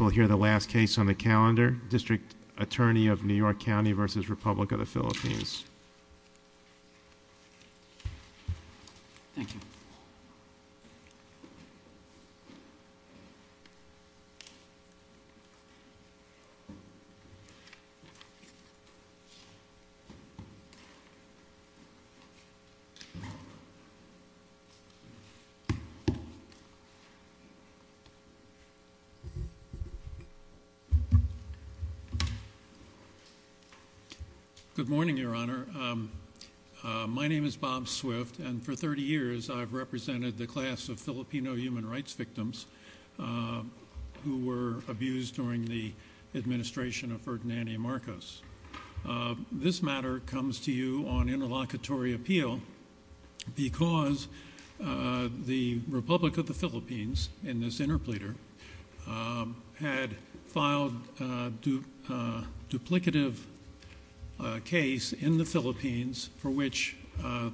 We'll hear the last case on the calendar, District Attorney of New York County versus Republic of the Philippines. Thank you. Good morning, Your Honor. My name is Bob Swift, and for 30 years, I've represented the class of Filipino human rights victims who were abused during the administration of Ferdinand DiMarcos. This matter comes to you on interlocutory appeal because the Republic of the Philippines, in this interpleader, had filed a duplicative case in the Philippines for which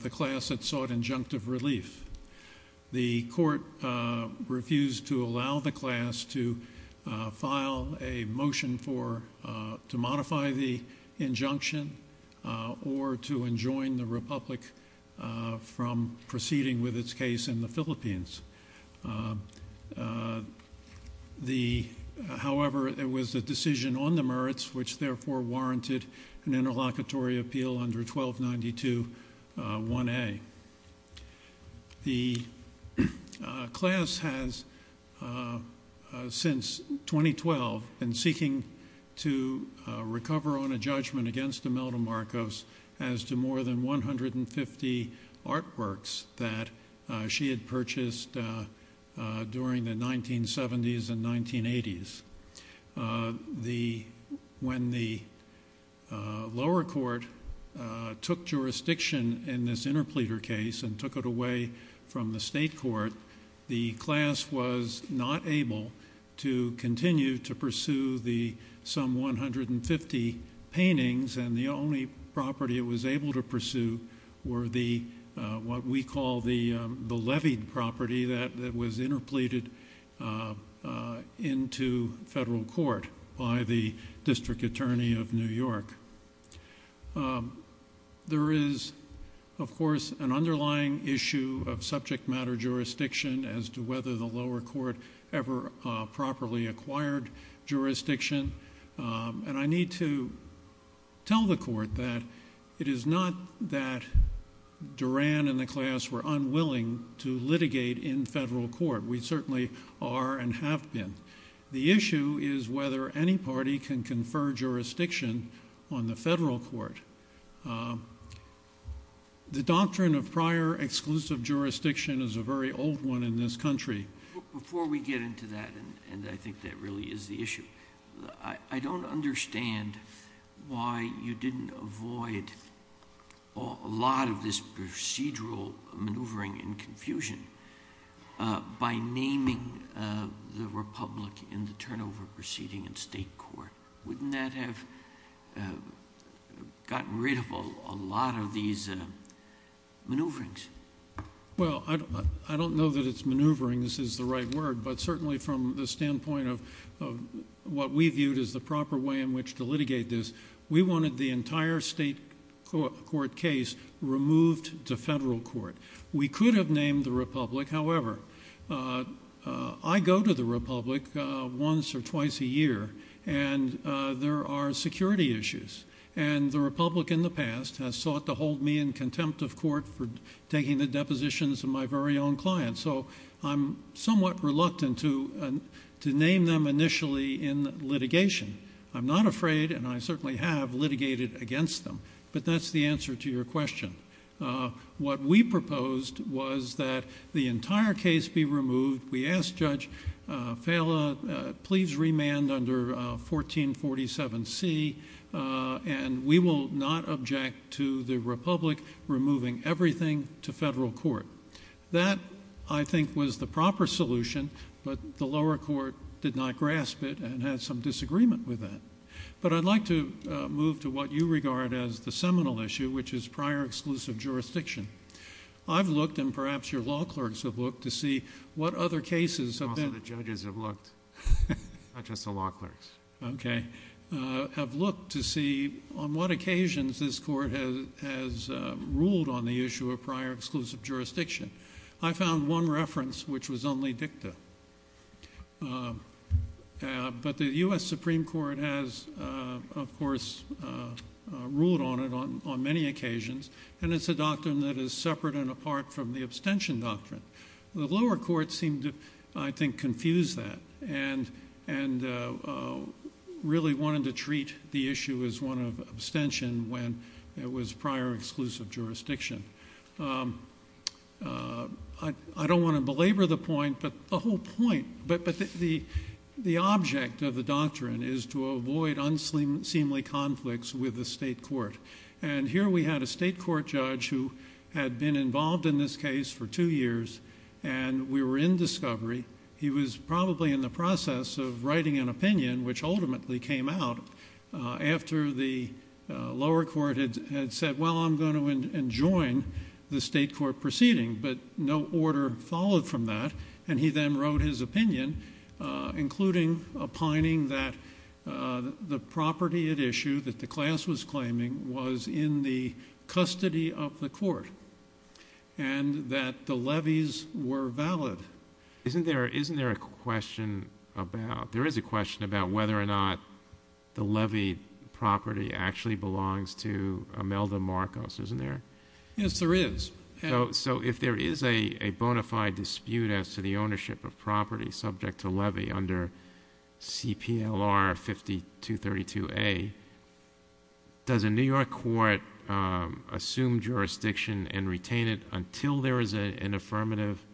the class had sought injunctive relief. The court refused to allow the class to file a motion to modify the injunction or to enjoin the Republic from proceeding with its case in the Philippines. However, it was a decision on the merits which therefore warranted an interlocutory appeal under 1292-1A. The class has, since 2012, been seeking to recover on a judgment against Imelda Marcos as to more than 150 artworks that she had purchased during the 1970s and 1980s. When the lower court took jurisdiction in this interpleader case and took it away from the state court, the class was not able to continue to pursue some 150 paintings, and the only property it was able to pursue were what we call the levied property that was interpleaded into federal court by the district attorney of New York. There is, of course, an underlying issue of subject matter jurisdiction as to whether the lower court ever properly acquired jurisdiction, and I need to tell the court that it is not that Duran and the class were unwilling to litigate in federal court. We certainly are and have been. The issue is whether any party can confer jurisdiction on the federal court. The doctrine of prior exclusive jurisdiction is a very old one in this country. Before we get into that, and I think that really is the issue, I don't understand why you didn't avoid a lot of this procedural maneuvering and confusion by naming the republic in the turnover proceeding in state court. Wouldn't that have gotten rid of a lot of these maneuverings? Well, I don't know that it's maneuvering, this is the right word, but certainly from the standpoint of what we viewed as the proper way in which to litigate this, we wanted the entire state court case removed to federal court. We could have named the republic, however. I go to the republic once or twice a year, and there are security issues, and the republic in the past has sought to hold me in contempt of court for taking the depositions of my very own clients, so I'm somewhat reluctant to name them initially in litigation. I'm not afraid, and I certainly have litigated against them, but that's the answer to your question. What we proposed was that the entire case be removed. We asked Judge Fala, please remand under 1447C, and we will not object to the republic removing everything to federal court. That, I think, was the proper solution, but the lower court did not grasp it and had some disagreement with that. But I'd like to move to what you regard as the seminal issue, which is prior exclusive jurisdiction. I've looked, and perhaps your law clerks have looked, to see what other cases have been... Also, the judges have looked, not just the law clerks. Okay, have looked to see on what occasions this court has ruled on the issue of prior exclusive jurisdiction. I found one reference which was only dicta, but the U.S. Supreme Court has, of course, ruled on it on many occasions, and it's a doctrine that is separate and apart from the abstention doctrine. The lower court seemed to, I think, confuse that and really wanted to treat the issue as one of abstention when it was prior exclusive jurisdiction. I don't want to belabor the point, but the object of the doctrine is to avoid unseemly conflicts with the state court. Here we had a state court judge who had been involved in this case for two years, and we were in discovery. He was probably in the process of writing an opinion, which ultimately came out after the lower court had said, well, I'm going to enjoin the state court proceeding. But no order followed from that, and he then wrote his opinion, including opining that the property at issue that the class was claiming was in the custody of the court and that the levies were valid. Isn't there a question about whether or not the levy property actually belongs to Imelda Marcos, isn't there? Yes, there is. So if there is a bona fide dispute as to the ownership of property subject to levy under CPLR 5232A, does a New York court assume jurisdiction and retain it until there is an affirmative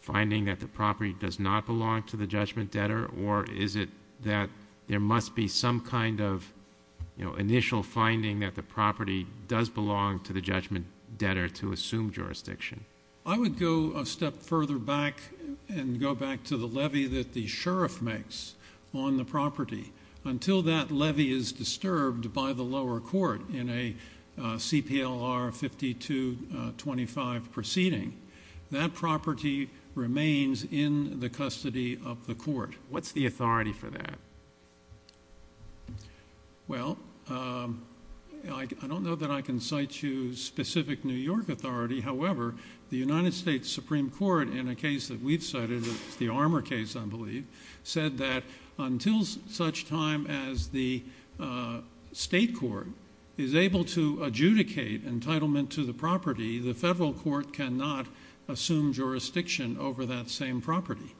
finding that the property does not belong to the judgment debtor, or is it that there must be some kind of initial finding that the property does belong to the judgment debtor to assume jurisdiction? I would go a step further back and go back to the levy that the sheriff makes on the property. Until that levy is disturbed by the lower court in a CPLR 5225 proceeding, that property remains in the custody of the court. What's the authority for that? Well, I don't know that I can cite you specific New York authority. However, the United States Supreme Court in a case that we've cited, the Armour case I believe, said that until such time as the state court is able to adjudicate entitlement to the property, the federal court cannot assume jurisdiction over that same property.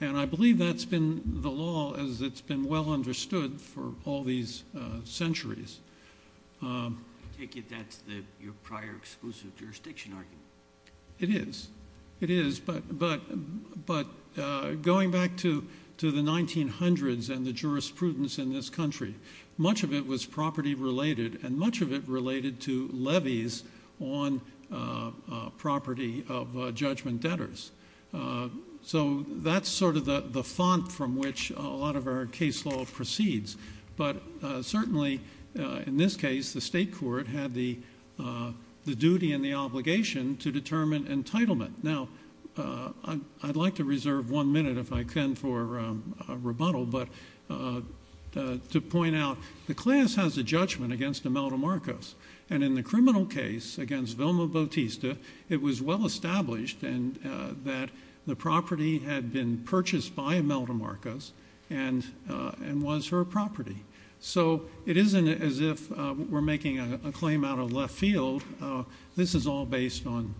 And I believe that's been the law as it's been well understood for all these centuries. I take it that's your prior exclusive jurisdiction argument. It is. It is, but going back to the 1900s and the jurisprudence in this country, much of it was property related and much of it related to levies on property of judgment debtors. So that's sort of the font from which a lot of our case law proceeds. But certainly in this case, the state court had the duty and the obligation to determine entitlement. Now, I'd like to reserve one minute if I can for rebuttal, but to point out the class has a judgment against Imelda Marcos. And in the criminal case against Vilma Bautista, it was well established that the property had been purchased by Imelda Marcos and was her property. So it isn't as if we're making a claim out of left field. This is all based on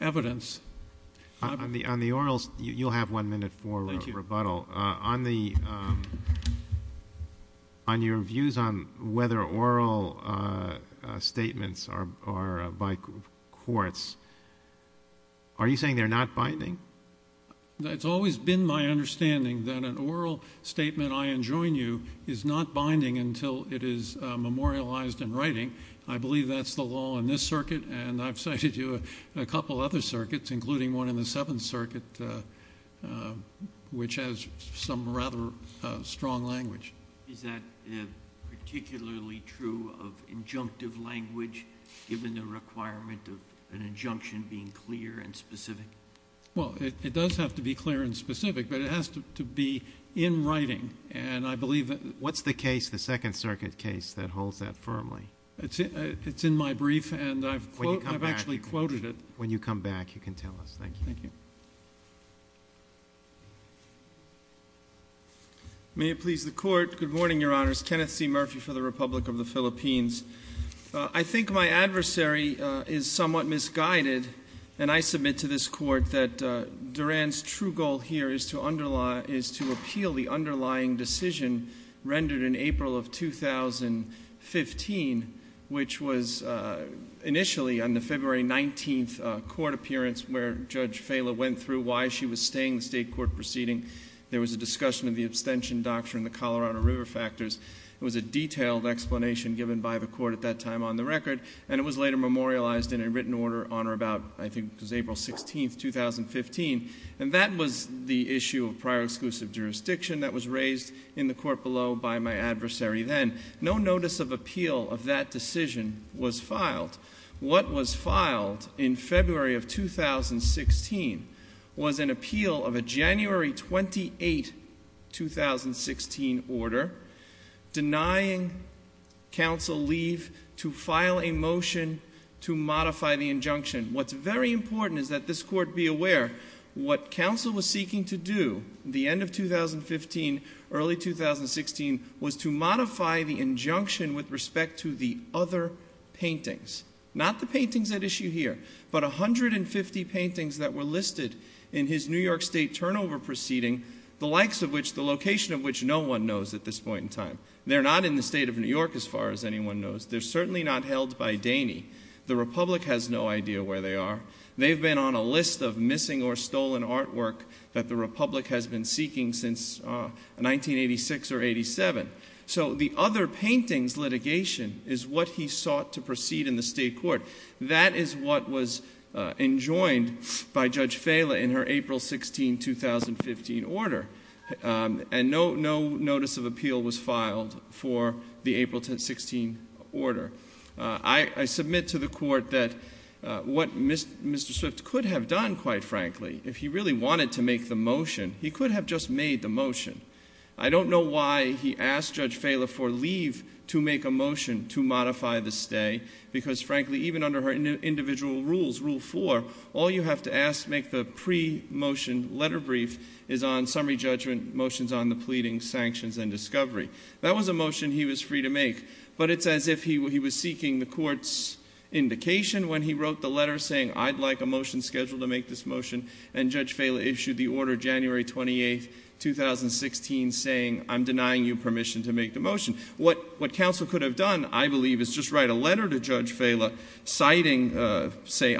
evidence. On the orals, you'll have one minute for rebuttal. Thank you. On your views on whether oral statements are by courts, are you saying they're not binding? It's always been my understanding that an oral statement I enjoin you is not binding until it is memorialized in writing. I believe that's the law in this circuit, and I've cited you in a couple other circuits, including one in the Seventh Circuit, which has some rather strong language. Is that particularly true of injunctive language, given the requirement of an injunction being clear and specific? Well, it does have to be clear and specific, but it has to be in writing. And I believe that – What's the case, the Second Circuit case, that holds that firmly? It's in my brief, and I've actually quoted it. When you come back, you can tell us. Thank you. Thank you. May it please the Court. Good morning, Your Honors. Kenneth C. Murphy for the Republic of the Philippines. I think my adversary is somewhat misguided, and I submit to this Court that Duran's true goal here is to appeal the underlying decision rendered in April of 2015, which was initially on the February 19th court appearance, where Judge Fela went through why she was staying in the state court proceeding. There was a discussion of the abstention doctrine, the Colorado River factors. It was a detailed explanation given by the Court at that time on the record, and it was later memorialized in a written order on or about, I think it was April 16th, 2015. And that was the issue of prior exclusive jurisdiction that was raised in the Court below by my adversary then. No notice of appeal of that decision was filed. What was filed in February of 2016 was an appeal of a January 28, 2016 order denying counsel leave to file a motion to modify the injunction. What's very important is that this Court be aware what counsel was seeking to do the end of 2015, early 2016 was to modify the injunction with respect to the other paintings. Not the paintings at issue here, but 150 paintings that were listed in his New York State turnover proceeding, the likes of which, the location of which no one knows at this point in time. They're not in the state of New York as far as anyone knows. They're certainly not held by Daney. The Republic has no idea where they are. They've been on a list of missing or stolen artwork that the Republic has been seeking since 1986 or 87. So the other paintings litigation is what he sought to proceed in the state court. That is what was enjoined by Judge Fela in her April 16, 2015 order. And no notice of appeal was filed for the April 16 order. I submit to the court that what Mr. Swift could have done, quite frankly, if he really wanted to make the motion, he could have just made the motion. I don't know why he asked Judge Fela for leave to make a motion to modify the stay. Because frankly, even under her individual rules, Rule 4, all you have to ask to make the pre-motion letter brief is on summary judgment, motions on the pleading, sanctions, and discovery. That was a motion he was free to make. But it's as if he was seeking the court's indication when he wrote the letter saying, I'd like a motion scheduled to make this motion. And Judge Fela issued the order January 28, 2016, saying, I'm denying you permission to make the motion. What counsel could have done, I believe, is just write a letter to Judge Fela citing, say,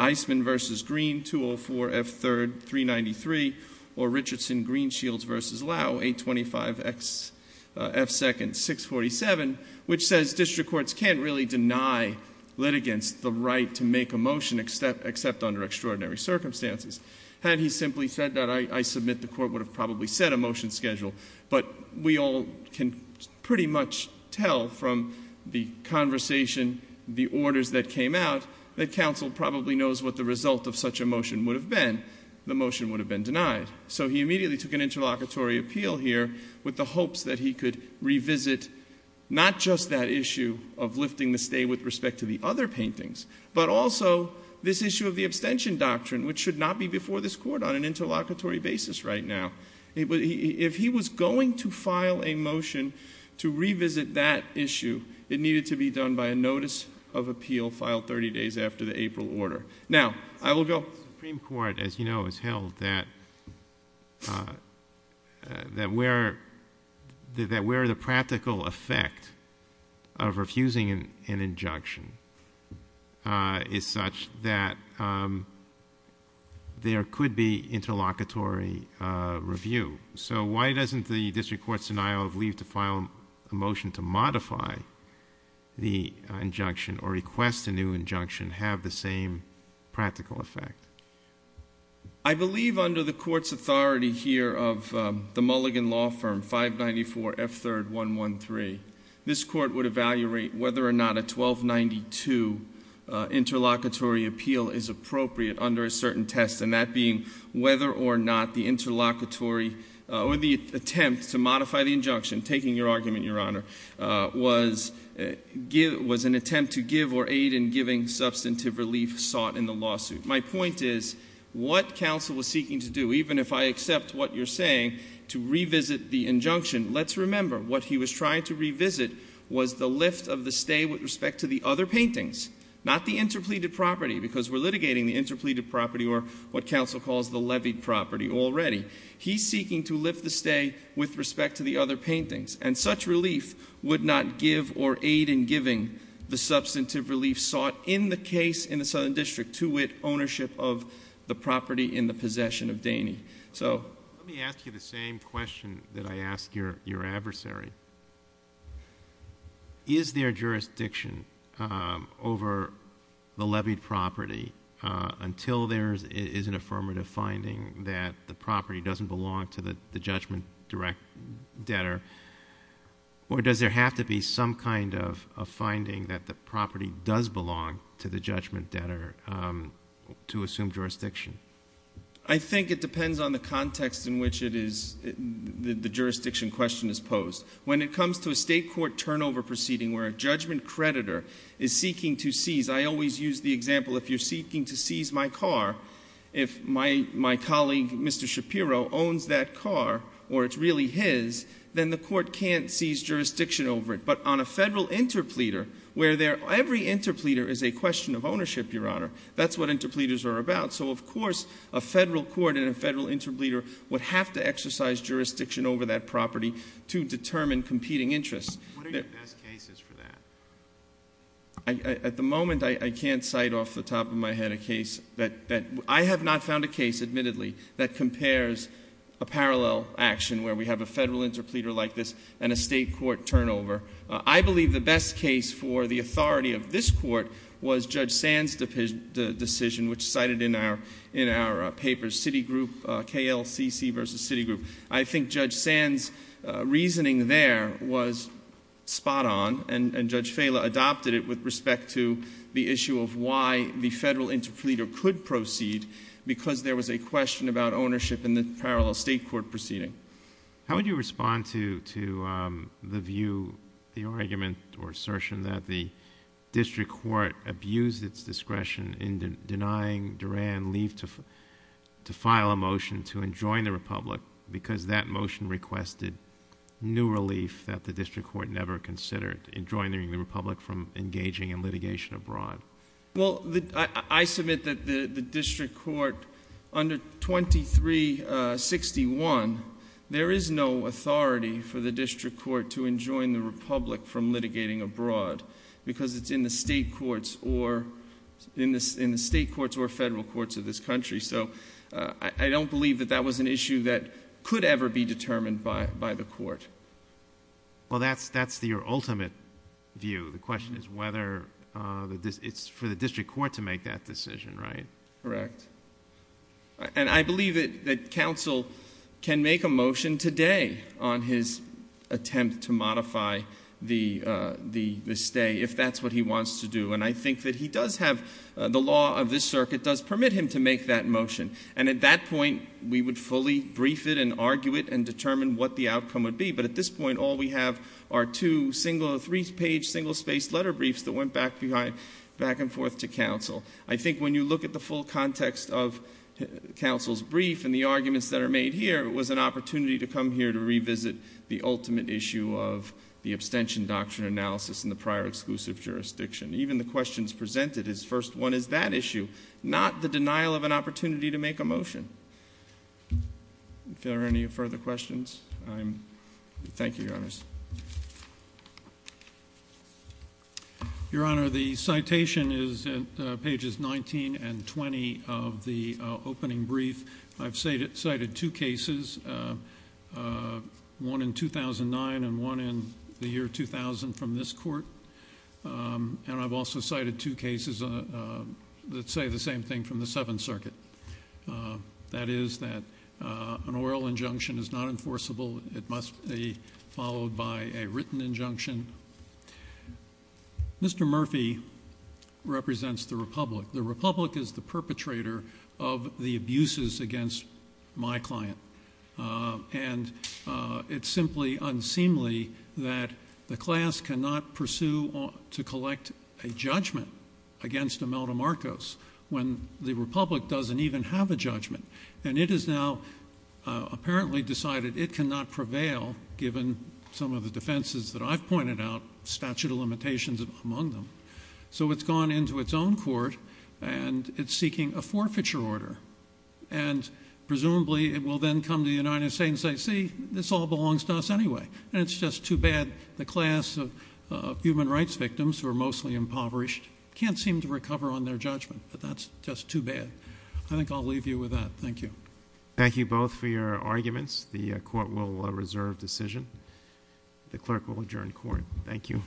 or Richardson-Greenshields v. Lau, 825XF2nd647, which says district courts can't really deny litigants the right to make a motion except under extraordinary circumstances. Had he simply said that, I submit the court would have probably set a motion schedule. But we all can pretty much tell from the conversation, the orders that came out, that counsel probably knows what the result of such a motion would have been. The motion would have been denied. So he immediately took an interlocutory appeal here with the hopes that he could revisit not just that issue of lifting the stay with respect to the other paintings, but also this issue of the abstention doctrine, which should not be before this court on an interlocutory basis right now. If he was going to file a motion to revisit that issue, it needed to be done by a notice of appeal filed 30 days after the April order. Now, I will go. Well, the Supreme Court, as you know, has held that where the practical effect of refusing an injunction is such that there could be interlocutory review. So why doesn't the district court's denial of leave to file a motion to modify the injunction or request a new injunction have the same practical effect? I believe under the court's authority here of the Mulligan law firm, 594 F. 3rd. 113, this court would evaluate whether or not a 1292 interlocutory appeal is appropriate under a certain test, and that being whether or not the interlocutory or the attempt to modify the injunction, taking your argument, Your Honor, was an attempt to give or aid in giving substantive relief sought in the lawsuit. My point is what counsel was seeking to do, even if I accept what you're saying to revisit the injunction, let's remember what he was trying to revisit was the lift of the stay with respect to the other paintings, not the interpleaded property, because we're litigating the interpleaded property or what counsel calls the levied property already. He's seeking to lift the stay with respect to the other paintings, and such relief would not give or aid in giving the substantive relief sought in the case in the Southern District to wit ownership of the property in the possession of Daney. Let me ask you the same question that I asked your adversary. Is there jurisdiction over the levied property until there is an affirmative finding that the property doesn't belong to the judgment direct debtor, or does there have to be some kind of finding that the property does belong to the judgment debtor to assume jurisdiction? I think it depends on the context in which the jurisdiction question is posed. When it comes to a state court turnover proceeding where a judgment creditor is seeking to seize, I always use the example if you're seeking to seize my car, if my colleague, Mr. Shapiro, owns that car or it's really his, then the court can't seize jurisdiction over it. But on a federal interpleader where every interpleader is a question of ownership, Your Honor, that's what interpleaders are about. So, of course, a federal court and a federal interpleader would have to exercise jurisdiction over that property to determine competing interests. What are your best cases for that? At the moment, I can't cite off the top of my head a case that I have not found a case, admittedly, that compares a parallel action where we have a federal interpleader like this and a state court turnover. I believe the best case for the authority of this court was Judge Sand's decision, which cited in our papers, city group, KLCC versus city group. I think Judge Sand's reasoning there was spot on, and Judge Fela adopted it with respect to the issue of why the federal interpleader could proceed because there was a question about ownership in the parallel state court proceeding. How would you respond to the view, the argument or assertion that the district court abused its discretion in denying Durand leave to file a motion to enjoin the republic because that motion requested new relief that the district court never considered enjoining the republic from engaging in litigation abroad? I submit that the district court under 2361, there is no authority for the district court to enjoin the republic from litigating abroad because it's in the state courts or federal courts of this country. I don't believe that that was an issue that could ever be determined by the court. Well, that's your ultimate view. The question is whether it's for the district court to make that decision, right? Correct. And I believe that counsel can make a motion today on his attempt to modify the stay if that's what he wants to do. And I think that he does have the law of this circuit does permit him to make that motion. And at that point, we would fully brief it and argue it and determine what the outcome would be. But at this point, all we have are two three-page, single-spaced letter briefs that went back and forth to counsel. I think when you look at the full context of counsel's brief and the arguments that are made here, it was an opportunity to come here to revisit the ultimate issue of the abstention doctrine analysis in the prior exclusive jurisdiction. Even the questions presented, his first one is that issue, not the denial of an opportunity to make a motion. If there are any further questions, thank you, Your Honors. Your Honor, the citation is at pages 19 and 20 of the opening brief. I've cited two cases, one in 2009 and one in the year 2000 from this court. And I've also cited two cases that say the same thing from the Seventh Circuit. That is that an oral injunction is not enforceable. It must be followed by a written injunction. Mr. Murphy represents the Republic. The Republic is the perpetrator of the abuses against my client. And it's simply unseemly that the class cannot pursue or to collect a judgment against Imelda Marcos when the Republic doesn't even have a judgment. And it is now apparently decided it cannot prevail, given some of the defenses that I've pointed out, statute of limitations among them. So it's gone into its own court and it's seeking a forfeiture order. And presumably it will then come to the United States and say, see, this all belongs to us anyway. And it's just too bad the class of human rights victims who are mostly impoverished can't seem to recover on their judgment. But that's just too bad. I think I'll leave you with that. Thank you. Thank you both for your arguments. The court will reserve decision. The clerk will adjourn court. Thank you. Court is adjourned.